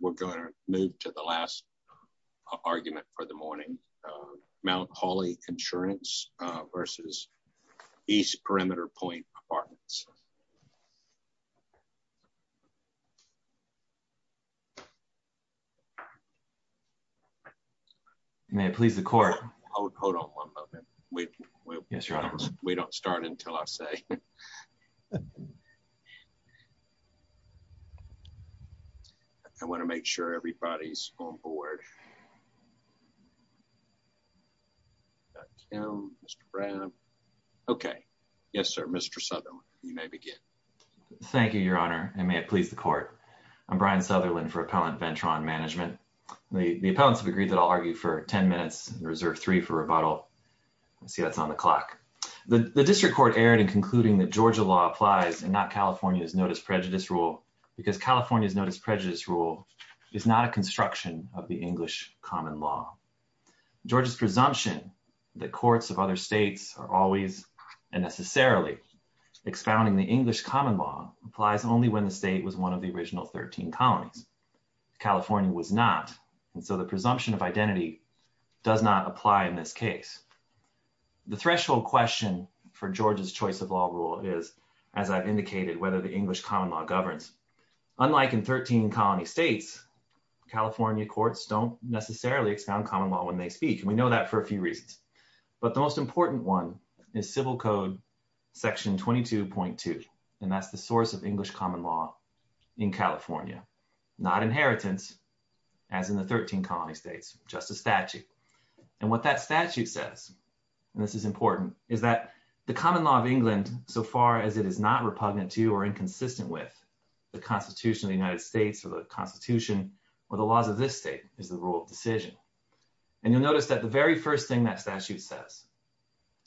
We're going to move to the last argument for the morning, Mount Hawley Insurance v. East Perimeter Pointe Apartments. May it please the court. Hold on one moment. We don't start until I say. I want to make sure everybody's on board. Mr. Brown. Okay. Yes, sir. Mr. Southerland, you may begin. Thank you, your honor. And may it please the court. I'm Brian Southerland for Appellant Ventron Management. The appellants have agreed that I'll argue for 10 minutes and reserve three for rebuttal. Let's see what's on the clock. The district court erred in concluding that Georgia law applies and not California's notice prejudice rule because California's notice prejudice rule is not a construction of the English common law. Georgia's presumption that courts of other states are always and necessarily expounding the English common law applies only when the state was one of the original 13 colonies. California was not. And so the presumption of identity does not apply in this case. The threshold question for Georgia's choice of law rule is, as I've indicated, whether the English common law governs. Unlike in 13 colony states, California courts don't necessarily expound common law when they speak. And we know that for a few reasons. But the most important one is civil code section 22.2. And that's the source of English common law in California, not inheritance as in the 13 colony states, just a statute. And what that statute says, and this is important, is that the common law of England, so far as it is not repugnant to or inconsistent with the constitution of the United States or the constitution or the laws of this state is the rule of decision. And you'll notice that the very first thing that statute says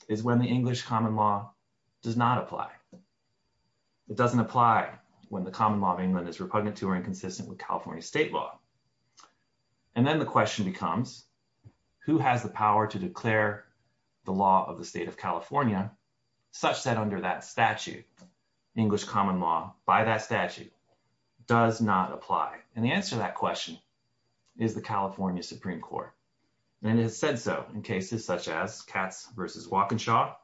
is when the English common law does not apply. It doesn't apply when the common law of England is repugnant to or inconsistent with California state law. And then the question becomes, who has the power to declare the law of the state of California, such that under that statute, English common law by that statute does not apply. And the answer to that question is the California Supreme Court. And it has said so in cases such as Katz versus Wakenshaw,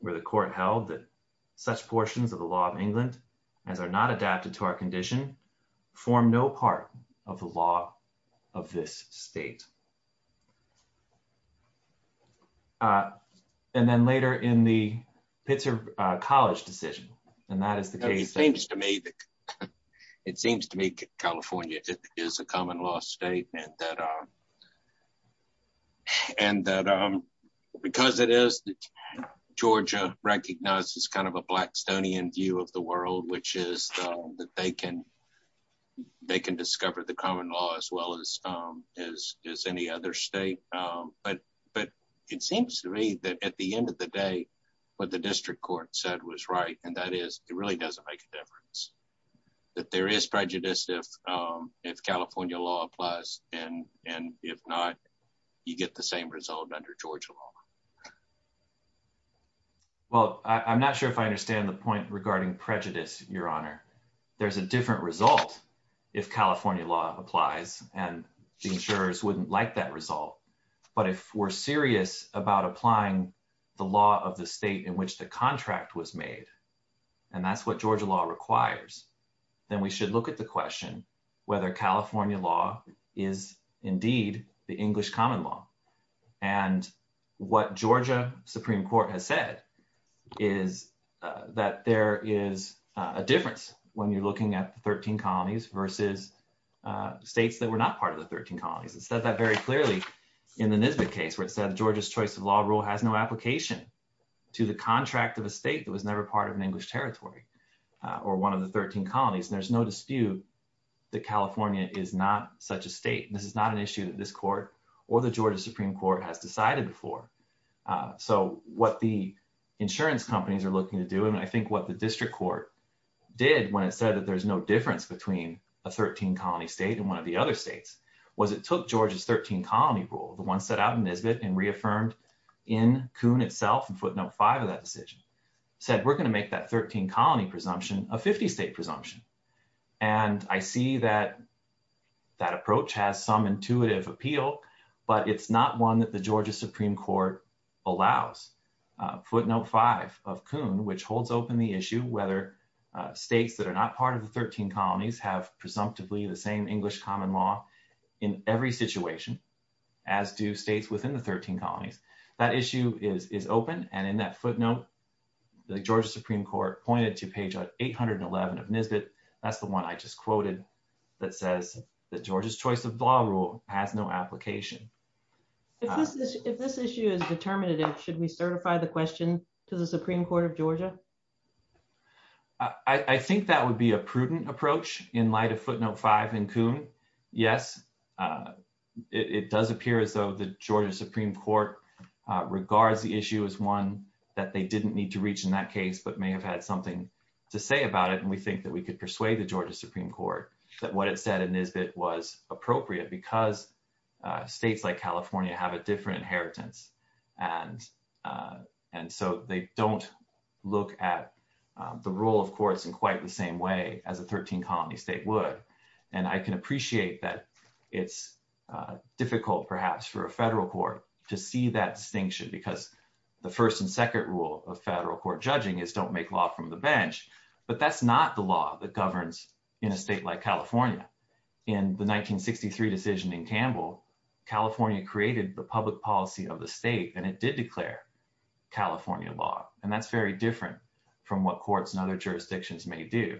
where the court held that such portions of the law of England as are not adapted to our condition form no part of the law of this state. And then later in the Pitzer College decision, and that is the case- It seems to me that California is a common law state and that because it is, Georgia recognizes kind of a Blackstonian view of the world, which is that they can discover the common law as well as any other state. But it seems to me that at the end of the day, what the district court said was right. And that is, it really doesn't make a difference. That there is prejudice if California law applies. And if not, you get the same result under Georgia law. Well, I'm not sure if I understand the point regarding prejudice, Your Honor. There's a different result if California law applies and the insurers wouldn't like that result. But if we're serious about applying the law of the state in which the contract was made, and that's what Georgia law requires, then we should look at the question whether California law is indeed the English common law. And what Georgia Supreme Court has said is that there is a difference when you're looking at the 13 colonies versus states that were not part of the 13 colonies. It said that very clearly in the Nisbet case where it said Georgia's choice of law rule has no application to the contract of a state that was never part of an English territory or one of the 13 colonies. There's no dispute that California is not such a state. And this is not an issue that this court or the Georgia Supreme Court has decided before. So what the insurance companies are looking to do, and I think what the district court did when it said that there's no difference between a 13 colony state and one of the other states was it took Georgia's 13 colony rule, the one set out in Nisbet and reaffirmed in Coon itself in footnote five of that decision, said we're gonna make that 13 colony presumption a 50 state presumption. And I see that that approach has some intuitive appeal, but it's not one that the Georgia Supreme Court allows. Footnote five of Coon, which holds open the issue whether states that are not part of the 13 colonies have presumptively the same English common law in every situation as do states within the 13 colonies. That issue is open. And in that footnote, the Georgia Supreme Court pointed to page 811 of Nisbet. That's the one I just quoted that says that Georgia's choice of law rule has no application. If this issue is determinative, should we certify the question to the Supreme Court of Georgia? I think that would be a prudent approach in light of footnote five in Coon. Yes, it does appear as though the Georgia Supreme Court regards the issue as one that they didn't need to reach in that case, but may have had something to say about it. And we think that we could persuade the Georgia Supreme Court that what it said in Nisbet was appropriate because states like California have a different inheritance. And so they don't look at the rule of courts in quite the same way as a 13 colony state would. And I can appreciate that it's difficult perhaps for a federal court to see that distinction because the first and second rule of federal court judging is don't make law from the bench, but that's not the law that governs in a state like California. In the 1963 decision in Campbell, California created the public policy of the state and it did declare California law. And that's very different from what courts and other jurisdictions may do.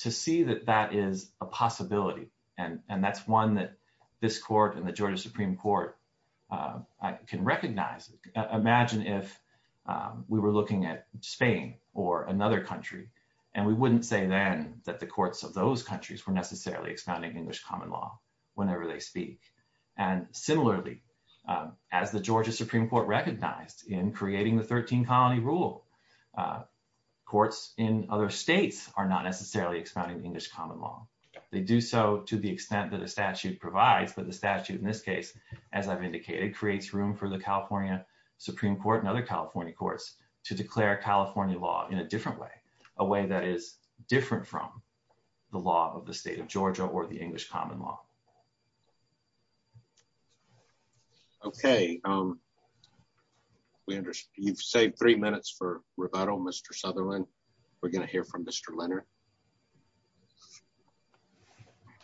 To see that that is a possibility, and that's one that this court and the Georgia Supreme Court can recognize. Imagine if we were looking at Spain or another country, and we wouldn't say then that the courts of those countries were necessarily expounding English common law whenever they speak. And similarly, as the Georgia Supreme Court recognized in creating the 13 colony rule, courts in other states are not necessarily expounding English common law. They do so to the extent that a statute provides, but the statute in this case, as I've indicated, creates room for the California Supreme Court and other California courts to declare California law in a different way, a way that is different from the law of the state of Georgia or the English common law. Okay. You've saved three minutes for rebuttal, Mr. Sutherland. We're gonna hear from Mr. Leonard.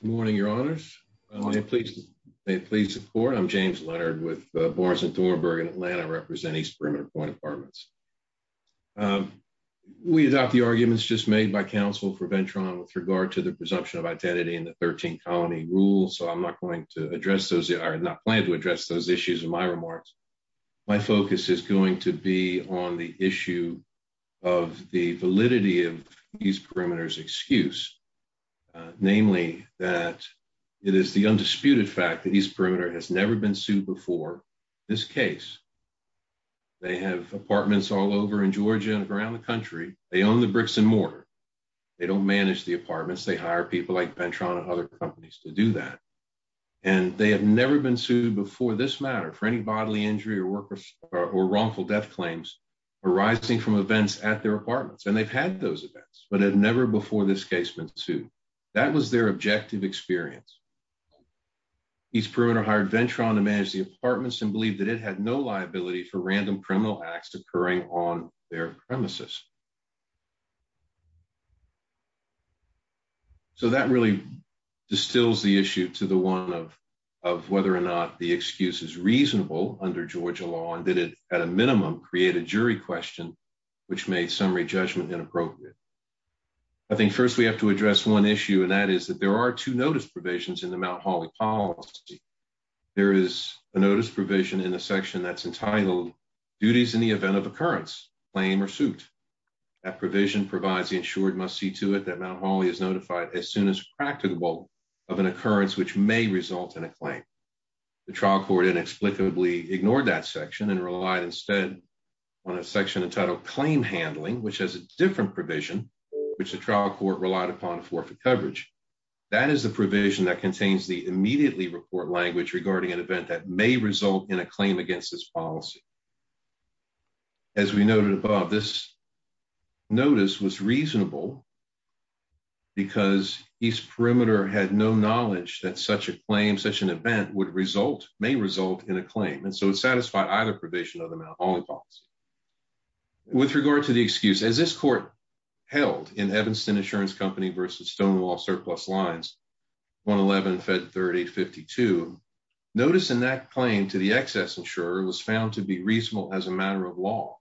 Good morning, your honors. May it please the court. I'm James Leonard with Barnes and Thornburg in Atlanta, representing East Perimeter Court Departments. We adopt the arguments just made by counsel for Ventron with regard to the presumption of identity in the 13 colony rule. So I'm not going to address those, or not plan to address those issues in my remarks. My focus is going to be on the issue of the validity of East Perimeter's excuse, namely that it is the undisputed fact that East Perimeter has never been sued before. This case, they have apartments all over in Georgia and around the country. They own the bricks and mortar. They don't manage the apartments. They hire people like Ventron and other companies to do that. And they have never been sued before this matter for any bodily injury or work or wrongful death claims arising from events at their apartments. And they've had those events, but had never before this case been sued. That was their objective experience. East Perimeter hired Ventron to manage the apartments and believed that it had no liability for random criminal acts occurring on their premises. So that really distills the issue to the one of, of whether or not the excuse is reasonable under Georgia law and that it, at a minimum, create a jury question, which made summary judgment inappropriate. I think first we have to address one issue, and that is that there are two notice provisions in the Mount Holly policy. There is a notice provision in the section that's entitled duties in the event of occurrence, claim or suit. That provision provides the insured must see to it that Mount Holly is notified as soon as practicable of an occurrence, which may result in a claim. The trial court inexplicably ignored that section and relied instead on a section entitled claim handling, which has a different provision, which the trial court relied upon for for coverage. That is the provision that contains the immediately report language regarding an event that may result in a claim against this policy. As we noted above, this notice was reasonable because East Perimeter had no knowledge that such a claim, such an event would result, may result in a claim. And so it satisfied either provision of the Mount Holly policy. With regard to the excuse, as this court held in Evanston Insurance Company versus Stonewall Surplus Lines, 111-Fed-3852, notice in that claim to the excess insurer was found to be reasonable as a matter of law.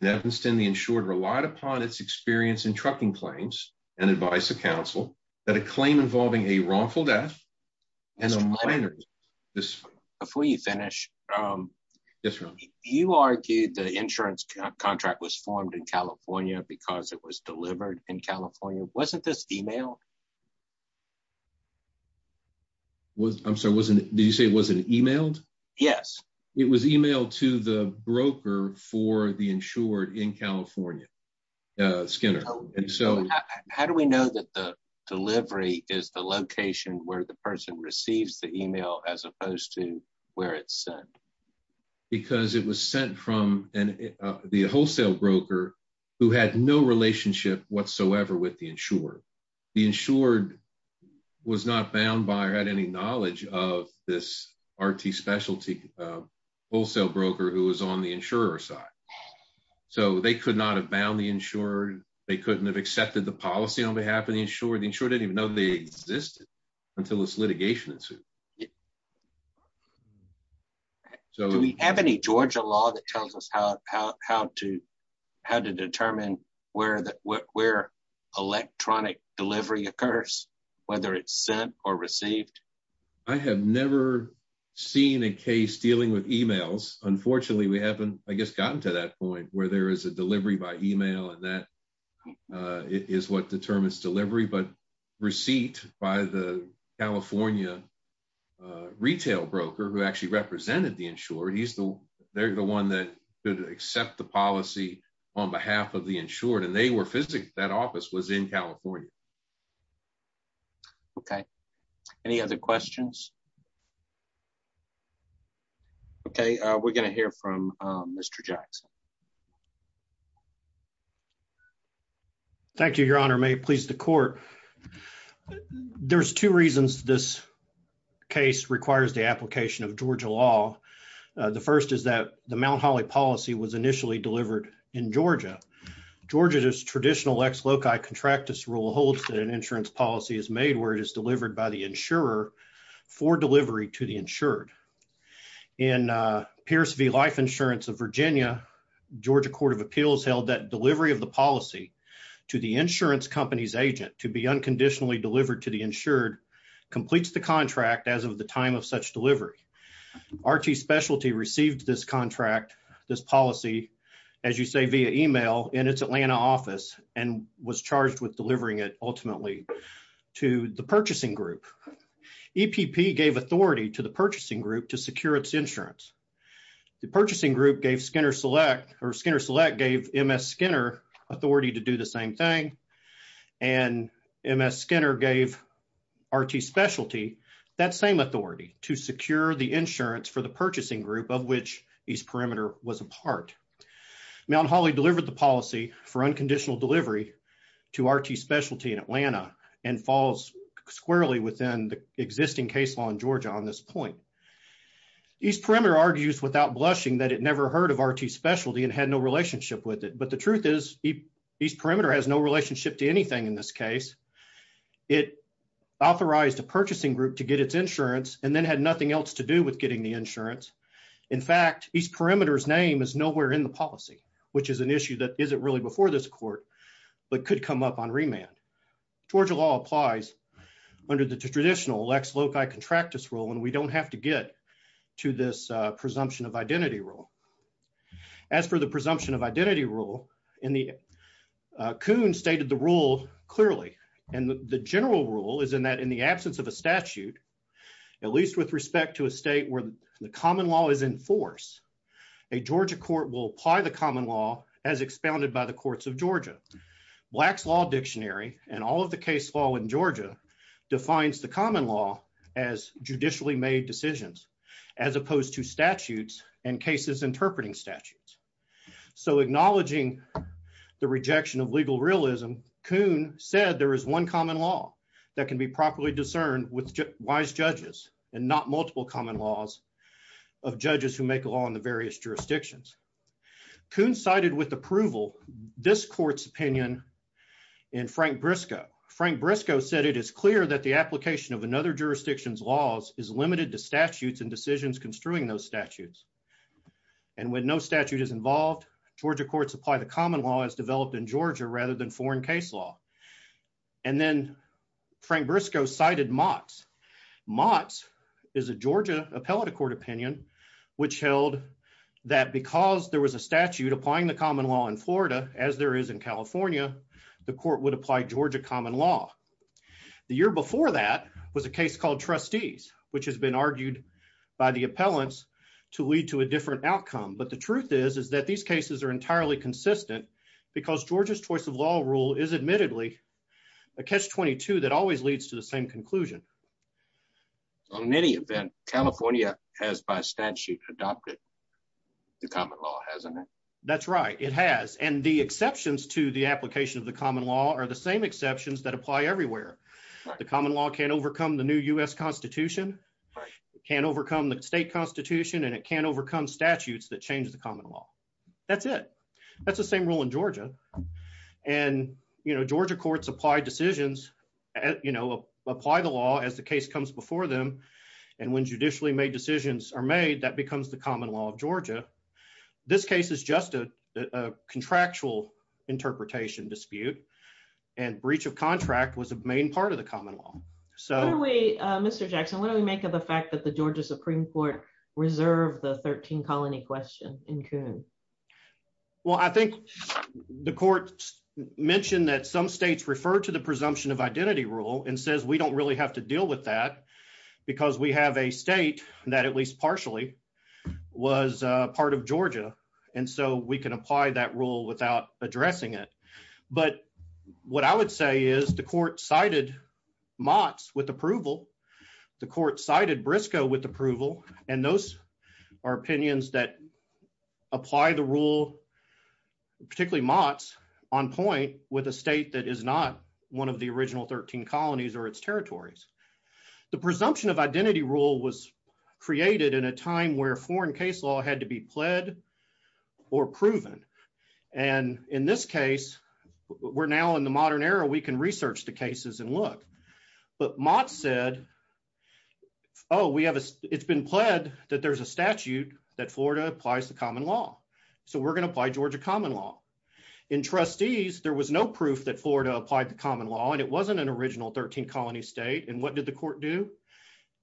In Evanston, the insured relied upon its experience in trucking claims and advice of counsel that a claim involving a wrongful death and a minor. Before you finish. Yes, Your Honor. You argued the insurance contract was formed in California because it was delivered in California. Wasn't this emailed? I'm sorry, did you say it wasn't emailed? Yes. It was emailed to the broker for the insured in California, Skinner. And so- How do we know that the delivery is the location where the person receives the email as opposed to where it's sent? Because it was sent from the wholesale broker who had no relationship whatsoever with the insurer. The insured was not bound by or had any knowledge of this RT specialty wholesale broker who was on the insurer's side. So they could not have bound the insurer. They couldn't have accepted the policy on behalf of the insurer. The insurer didn't even know they existed until this litigation ensued. So- Do we have any Georgia law that tells us how to determine where electronic delivery occurs, whether it's sent or received? I have never seen a case dealing with emails. Unfortunately, we haven't, I guess, gotten to that point where there is a delivery by email and that is what determines delivery. But receipt by the California retail broker who actually represented the insurer, they're the one that could accept the policy on behalf of the insured. And they were physically, that office was in California. Okay. Any other questions? Okay. We're gonna hear from Mr. Jackson. Thank you, your honor. May it please the court. There's two reasons this case requires the application of Georgia law. The first is that the Mount Holly policy was initially delivered in Georgia. Georgia's traditional ex loci contractus rule holds that an insurance policy is made where it is delivered by the insurer for delivery to the insured. In Pierce v. Life Insurance of Virginia, Georgia Court of Appeals held that delivery of the policy to the insurance company's agent to be unconditionally delivered to the insured completes the contract as of the time of such delivery. Archie Specialty received this contract, this policy, as you say, via email in its Atlanta office and was charged with delivering it ultimately to the purchasing group. EPP gave authority to the purchasing group to secure its insurance. The purchasing group gave Skinner Select or Skinner Select gave MS Skinner authority to do the same thing. And MS Skinner gave Archie Specialty that same authority to secure the insurance for the purchasing group of which East Perimeter was a part. Mount Holly delivered the policy for unconditional delivery to Archie Specialty in Atlanta and falls squarely within the existing case law in Georgia on this point. East Perimeter argues without blushing that it never heard of Archie Specialty and had no relationship with it. But the truth is East Perimeter has no relationship to anything in this case. It authorized a purchasing group to get its insurance and then had nothing else to do with getting the insurance. In fact, East Perimeter's name is nowhere in the policy which is an issue that isn't really before this court but could come up on remand. Georgia law applies under the traditional Lex Loci contractus rule and we don't have to get to this presumption of identity rule. As for the presumption of identity rule and Coon stated the rule clearly. And the general rule is in that in the absence of a statute at least with respect to a state where the common law is in force, a Georgia court will apply the common law as expounded by the courts of Georgia. Black's Law Dictionary and all of the case law in Georgia defines the common law as judicially made decisions as opposed to statutes and cases interpreting statutes. So acknowledging the rejection of legal realism, Coon said there is one common law that can be properly discerned with wise judges and not multiple common laws of judges who make a law in the various jurisdictions. Coon cited with approval this court's opinion in Frank Briscoe. Frank Briscoe said it is clear that the application of another jurisdiction's laws is limited to statutes and decisions construing those statutes. And when no statute is involved, Georgia courts apply the common law as developed in Georgia rather than foreign case law. And then Frank Briscoe cited Mott's. Mott's is a Georgia appellate court opinion which held that because there was a statute applying the common law in Florida as there is in California, the court would apply Georgia common law. The year before that was a case called Trustees which has been argued by the appellants to lead to a different outcome. But the truth is, is that these cases are entirely consistent because Georgia's choice of law rule is admittedly a catch-22 that always leads to the same conclusion. On any event, California has by statute adopted the common law, hasn't it? That's right, it has. And the exceptions to the application of the common law are the same exceptions that apply everywhere. The common law can't overcome the new U.S. Constitution, it can't overcome the state constitution and it can't overcome statutes that change the common law. That's it. That's the same rule in Georgia. And Georgia courts apply decisions, apply the law as the case comes before them. And when judicially made decisions are made, that becomes the common law of Georgia. This case is just a contractual interpretation dispute and breach of contract was a main part of the common law. So- What do we, Mr. Jackson, what do we make of the fact that the Georgia Supreme Court reserved the 13 colony question in Coon? Well, I think the court mentioned that some states refer to the presumption of identity rule and says, we don't really have to deal with that because we have a state that at least partially was a part of Georgia. And so we can apply that rule without addressing it. But what I would say is the court cited Mott's with approval the court cited Briscoe with approval. And those are opinions that apply the rule, particularly Mott's on point with a state that is not one of the original 13 colonies or its territories. The presumption of identity rule was created in a time where foreign case law had to be pled or proven. And in this case, we're now in the modern era we can research the cases and look. But Mott said, oh, we have a, it's been pled that there's a statute that Florida applies the common law. So we're gonna apply Georgia common law. In trustees, there was no proof that Florida applied the common law and it wasn't an original 13 colony state. And what did the court do?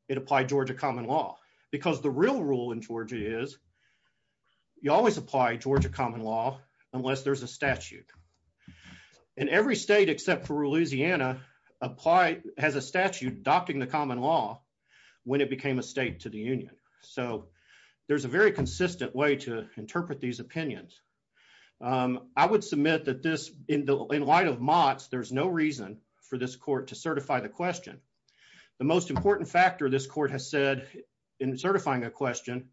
It applied Georgia common law because the real rule in Georgia is you always apply Georgia common law unless there's a statute. And every state except for Louisiana apply has a statute adopting the common law when it became a state to the union. So there's a very consistent way to interpret these opinions. I would submit that this in light of Mott's there's no reason for this court to certify the question. The most important factor this court has said in certifying a question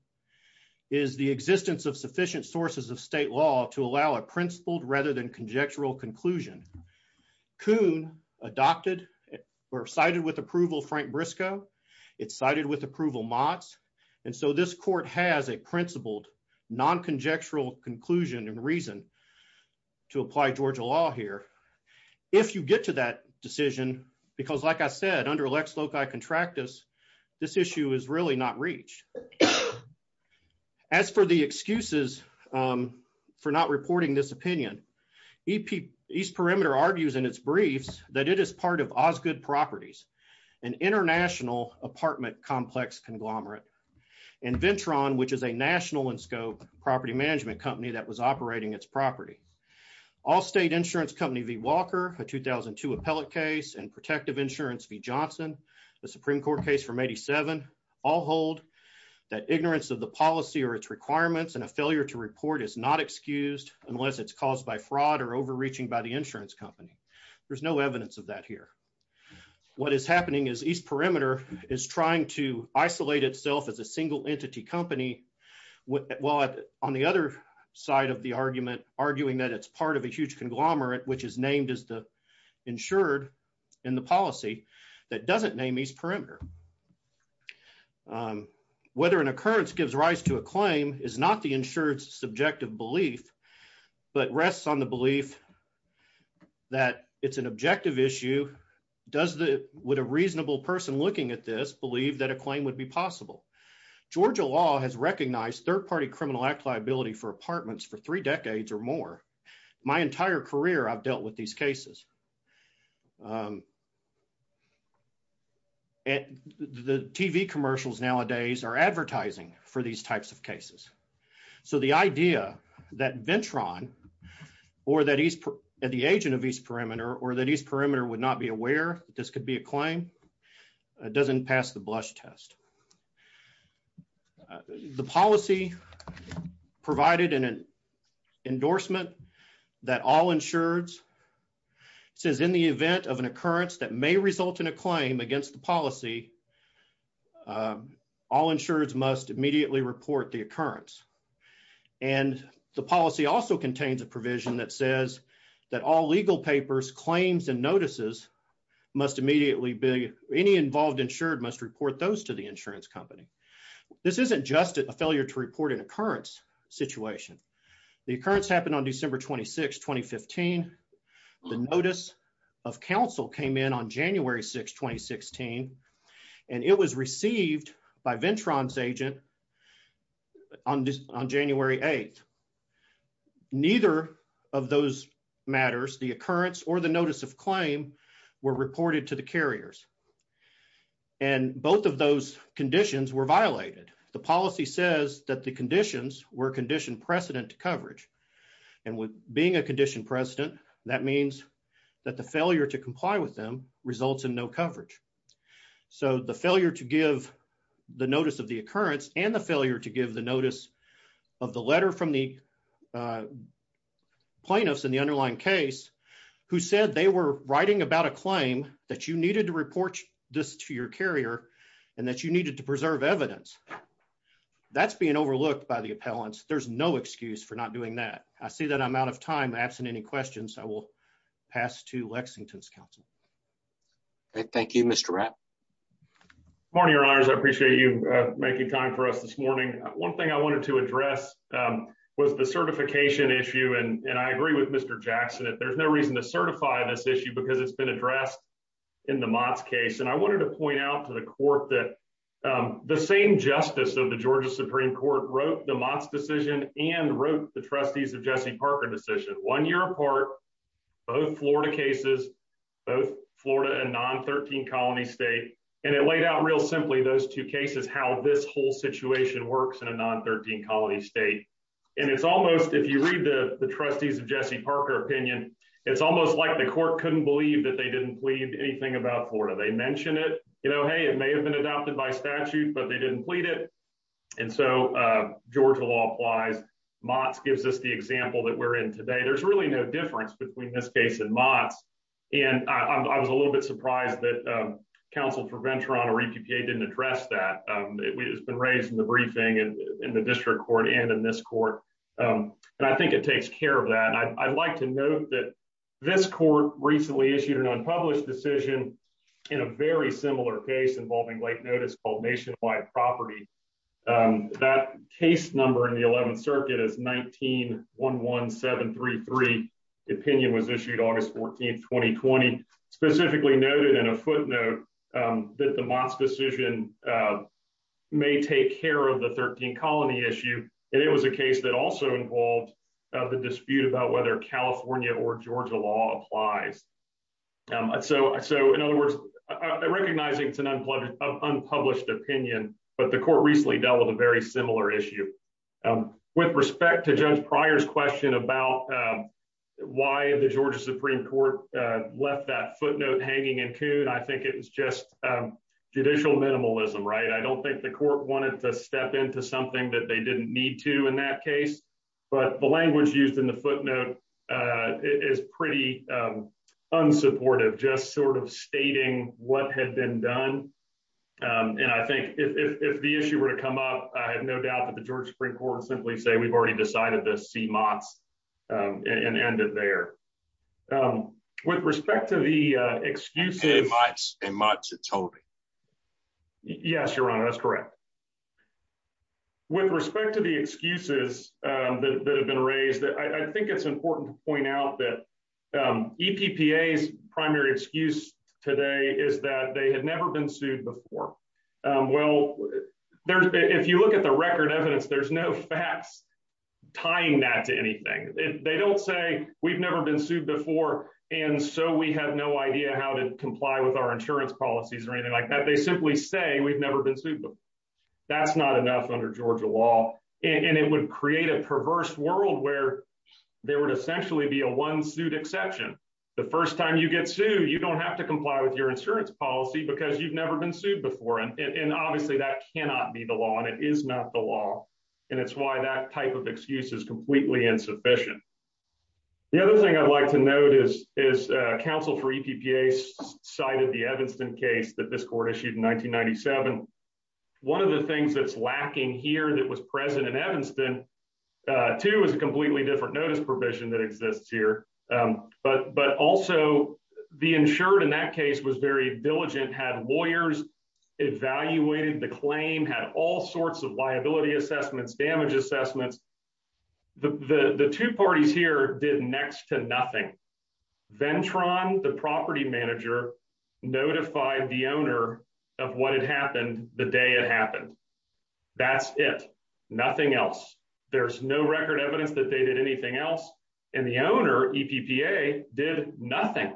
is the existence of sufficient sources of state law to allow a principled rather than conjectural conclusion. Coon adopted or cited with approval Frank Briscoe. It's cited with approval Mott's. And so this court has a principled non-conjectural conclusion and reason to apply Georgia law here. If you get to that decision, because like I said, under Lex Loci Contractus this issue is really not reached. As for the excuses for not reporting this opinion, East Perimeter argues in its briefs that it is part of Osgoode Properties an international apartment complex conglomerate and Ventron, which is a national and scope property management company that was operating its property. All state insurance company V. Walker, a 2002 appellate case and protective insurance V. Johnson the Supreme Court case from 87 all hold that ignorance of the policy or its requirements and a failure to report is not excused unless it's caused by fraud or overreaching by the insurance company. There's no evidence of that here. What is happening is East Perimeter is trying to isolate itself as a single entity company while on the other side of the argument arguing that it's part of a huge conglomerate which is named as the insured in the policy that doesn't name East Perimeter. Whether an occurrence gives rise to a claim is not the insurance subjective belief but rests on the belief that it's an objective issue. Does the, would a reasonable person looking at this believe that a claim would be possible? Georgia law has recognized third-party criminal act liability for apartments for three decades or more. My entire career I've dealt with these cases. And the TV commercials nowadays are advertising for these types of cases. So the idea that Ventron or that East, at the agent of East Perimeter or that East Perimeter would not be aware this could be a claim doesn't pass the blush test. The policy provided in an endorsement that all insureds says in the event of an occurrence that may result in a claim against the policy all insureds must immediately report the occurrence. And the policy also contains a provision that says that all legal papers, claims and notices must immediately be, any involved insured must report those to the insurance company. This isn't just a failure to report an occurrence situation. The occurrence happened on December 26, 2015. The notice of council came in on January 6, 2016 and it was received by Ventron's agent on January 8th. Neither of those matters, the occurrence or the notice of claim were reported to the carriers. And both of those conditions were violated. were conditioned precedent to coverage. And with being a conditioned precedent that means that the failure to comply with them results in no coverage. So the failure to give the notice of the occurrence and the failure to give the notice of the letter from the plaintiffs in the underlying case who said they were writing about a claim that you needed to report this to your carrier and that you needed to preserve evidence. That's being overlooked by the appellants. There's no excuse for not doing that. I see that I'm out of time. Absent any questions, I will pass to Lexington's council. Okay, thank you, Mr. Rapp. Morning, your honors. I appreciate you making time for us this morning. One thing I wanted to address was the certification issue. And I agree with Mr. Jackson that there's no reason to certify this issue because it's been addressed in the Mott's case. And I wanted to point out to the court that the same justice of the Georgia Supreme Court wrote the Mott's decision and wrote the trustees of Jesse Parker decision. One year apart, both Florida cases, both Florida and non-13 colony state. And it laid out real simply those two cases, how this whole situation works in a non-13 colony state. And it's almost, if you read the trustees of Jesse Parker opinion, it's almost like the court couldn't believe that they didn't plead anything about Florida. They mentioned it. You know, hey, it may have been adopted by statute, but they didn't plead it. And so Georgia law applies. Mott's gives us the example that we're in today. There's really no difference between this case and Mott's. And I was a little bit surprised that counsel for Venturano or EPPA didn't address that. It has been raised in the briefing and in the district court and in this court. And I think it takes care of that. And I'd like to note that this court recently issued an unpublished decision in a very similar case involving late notice called Nationwide Property. That case number in the 11th circuit is 19-11733. Opinion was issued August 14th, 2020, specifically noted in a footnote that the Mott's decision may take care of the 13 colony issue. And it was a case that also involved the dispute about whether California or Georgia law applies. So in other words, recognizing it's an unpublished opinion, but the court recently dealt with a very similar issue. With respect to Judge Pryor's question about why the Georgia Supreme Court left that footnote hanging in Coon, I think it was just judicial minimalism, right? I don't think the court wanted to step into something that they didn't need to in that case, but the language used in the footnote is pretty unsupportive, just sort of stating what had been done. And I think if the issue were to come up, I have no doubt that the Georgia Supreme Court would simply say, we've already decided to see Mott's and end it there. With respect to the excuses- And Mott's had told him. Yes, Your Honor, that's correct. With respect to the excuses that have been raised, I think it's important to point out that EPPA's primary excuse today is that they had never been sued before. Well, if you look at the record evidence, there's no facts tying that to anything. They don't say, we've never been sued before, and so we have no idea how to comply with our insurance policies or anything like that. They simply say, we've never been sued before. That's not enough under Georgia law. And it would create a perverse world where there would essentially be a one-suit exception. The first time you get sued, you don't have to comply with your insurance policy because you've never been sued before. And obviously that cannot be the law, and it is not the law. And it's why that type of excuse is completely insufficient. The other thing I'd like to note is counsel for EPPA cited the Evanston case that this court issued in 1997. One of the things that's lacking here that was present in Evanston, two is a completely different notice provision that exists here. But also the insured in that case was very diligent, had lawyers evaluated the claim, had all sorts of liability assessments, damage assessments. The two parties here did next to nothing. Ventron, the property manager, notified the owner of what had happened the day it happened. That's it, nothing else. There's no record evidence that they did anything else. And the owner, EPPA, did nothing.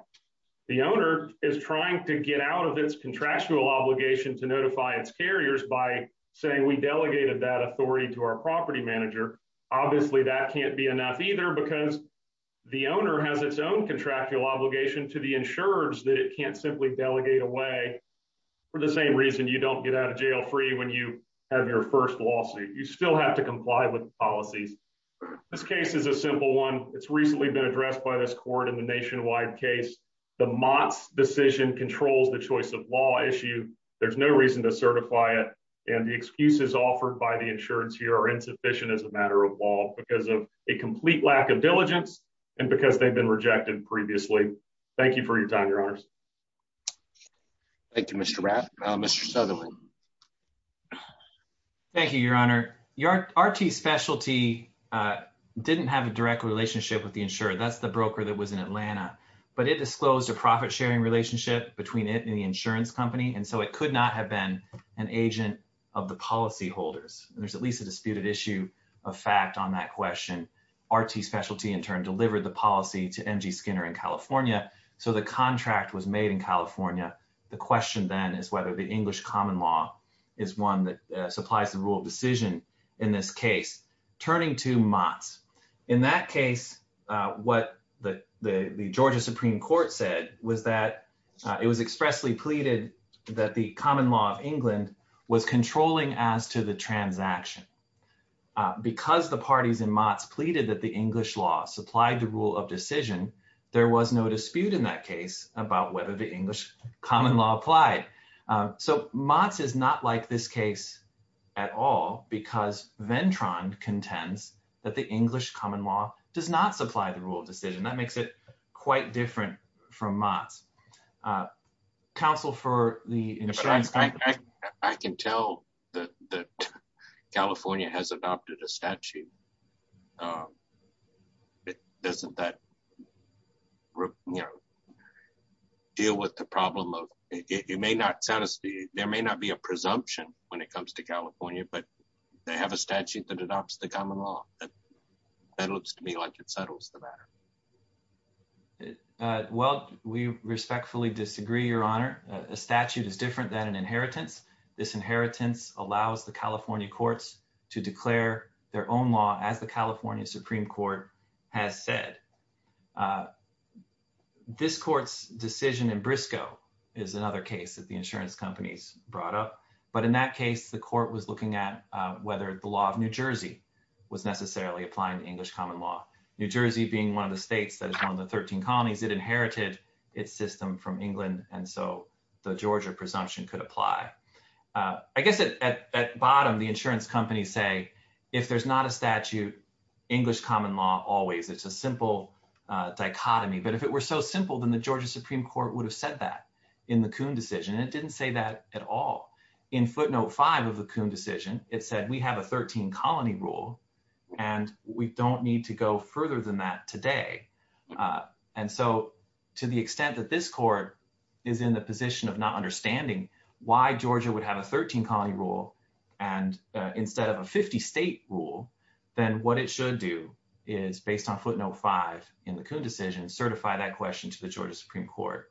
The owner is trying to get out of its contractual obligation to notify its carriers by saying we delegated that authority to our property manager. Obviously that can't be enough either because the owner has its own contractual obligation to the insurers that it can't simply delegate away for the same reason you don't get out of jail free when you have your first lawsuit. You still have to comply with policies. This case is a simple one. It's recently been addressed by this court in the nationwide case. The Mott's decision controls the choice of law issue. There's no reason to certify it. And the excuses offered by the insurance here are insufficient as a matter of law because of a complete lack of diligence and because they've been rejected previously. Thank you for your time, your honors. Thank you, Mr. Rapp. Mr. Sutherland. Thank you, your honor. Your RT specialty didn't have a direct relationship with the insurer. That's the broker that was in Atlanta, but it disclosed a profit sharing relationship between it and the insurance company. And so it could not have been an agent of the policy holders. And there's at least a disputed issue of fact on that question. RT specialty in turn delivered the policy to MG Skinner in California. So the contract was made in California. The question then is whether the English common law is one that supplies the rule of decision in this case, turning to Mott's. In that case, what the Georgia Supreme Court said was that it was expressly pleaded that the common law of England was controlling as to the transaction. Because the parties in Mott's pleaded that the English law supplied the rule of decision, there was no dispute in that case about whether the English common law applied. So Mott's is not like this case at all because Ventron contends that the English common law does not supply the rule of decision. That makes it quite different from Mott's. Counsel for the insurance company. I can tell that California has adopted a statute. And doesn't that deal with the problem of, it may not satisfy, there may not be a presumption when it comes to California, but they have a statute that adopts the common law. That looks to me like it settles the matter. Well, we respectfully disagree, Your Honor. A statute is different than an inheritance. This inheritance allows the California courts to declare their own law as the California Supreme Court has said. This court's decision in Briscoe is another case that the insurance companies brought up. But in that case, the court was looking at whether the law of New Jersey was necessarily applying to English common law. New Jersey being one of the states that is one of the 13 colonies, it inherited its system from England. And so the Georgia presumption could apply. I guess at bottom, the insurance companies say, if there's not a statute, English common law always. It's a simple dichotomy. But if it were so simple, then the Georgia Supreme Court would have said that in the Coon decision. And it didn't say that at all. In footnote five of the Coon decision, it said, we have a 13 colony rule and we don't need to go further than that today. And so to the extent that this court is in the position of not understanding why Georgia would have a 13 colony rule and instead of a 50 state rule, then what it should do is based on footnote five in the Coon decision, certify that question to the Georgia Supreme Court.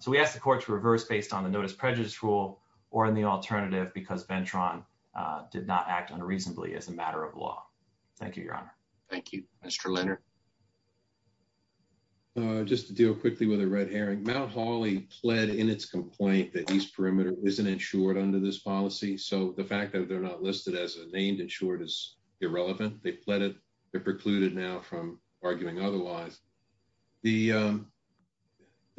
So we asked the court to reverse based on the notice prejudice rule or in the alternative, because Ventron did not act unreasonably as a matter of law. Thank you, your honor. Thank you, Mr. Leonard. Just to deal quickly with a red herring, Mount Holly pled in its complaint that East Perimeter isn't insured under this policy. So the fact that they're not listed as a named insured is irrelevant. They pled it. They're precluded now from arguing otherwise. The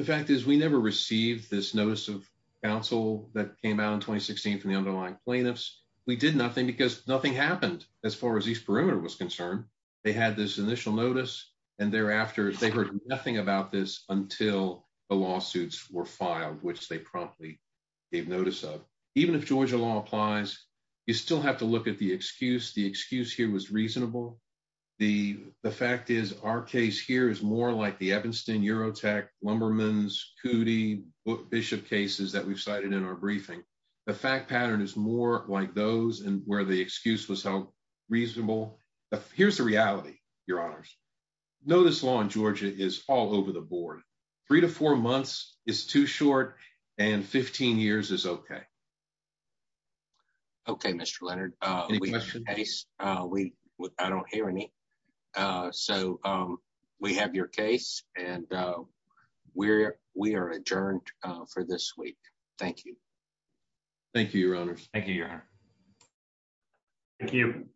fact is we never received this notice of counsel that came out in 2016 from the underlying plaintiffs. We did nothing because nothing happened as far as East Perimeter was concerned. They had this initial notice. And thereafter, they heard nothing about this until the lawsuits were filed, which they promptly gave notice of. Even if Georgia law applies, you still have to look at the excuse. The excuse here was reasonable. The fact is our case here is more like the Evanston, Eurotech, Lumbermans, Cootey, Bishop cases that we've cited in our briefing. The fact pattern is more like those and where the excuse was held reasonable. Here's the reality, your honors. Notice law in Georgia is all over the board. Three to four months is too short, and 15 years is okay. Okay, Mr. Leonard. Any questions? I don't hear any. So we have your case, and we are adjourned for this week. Thank you. Thank you, your honors. Thank you, your honor. Thank you.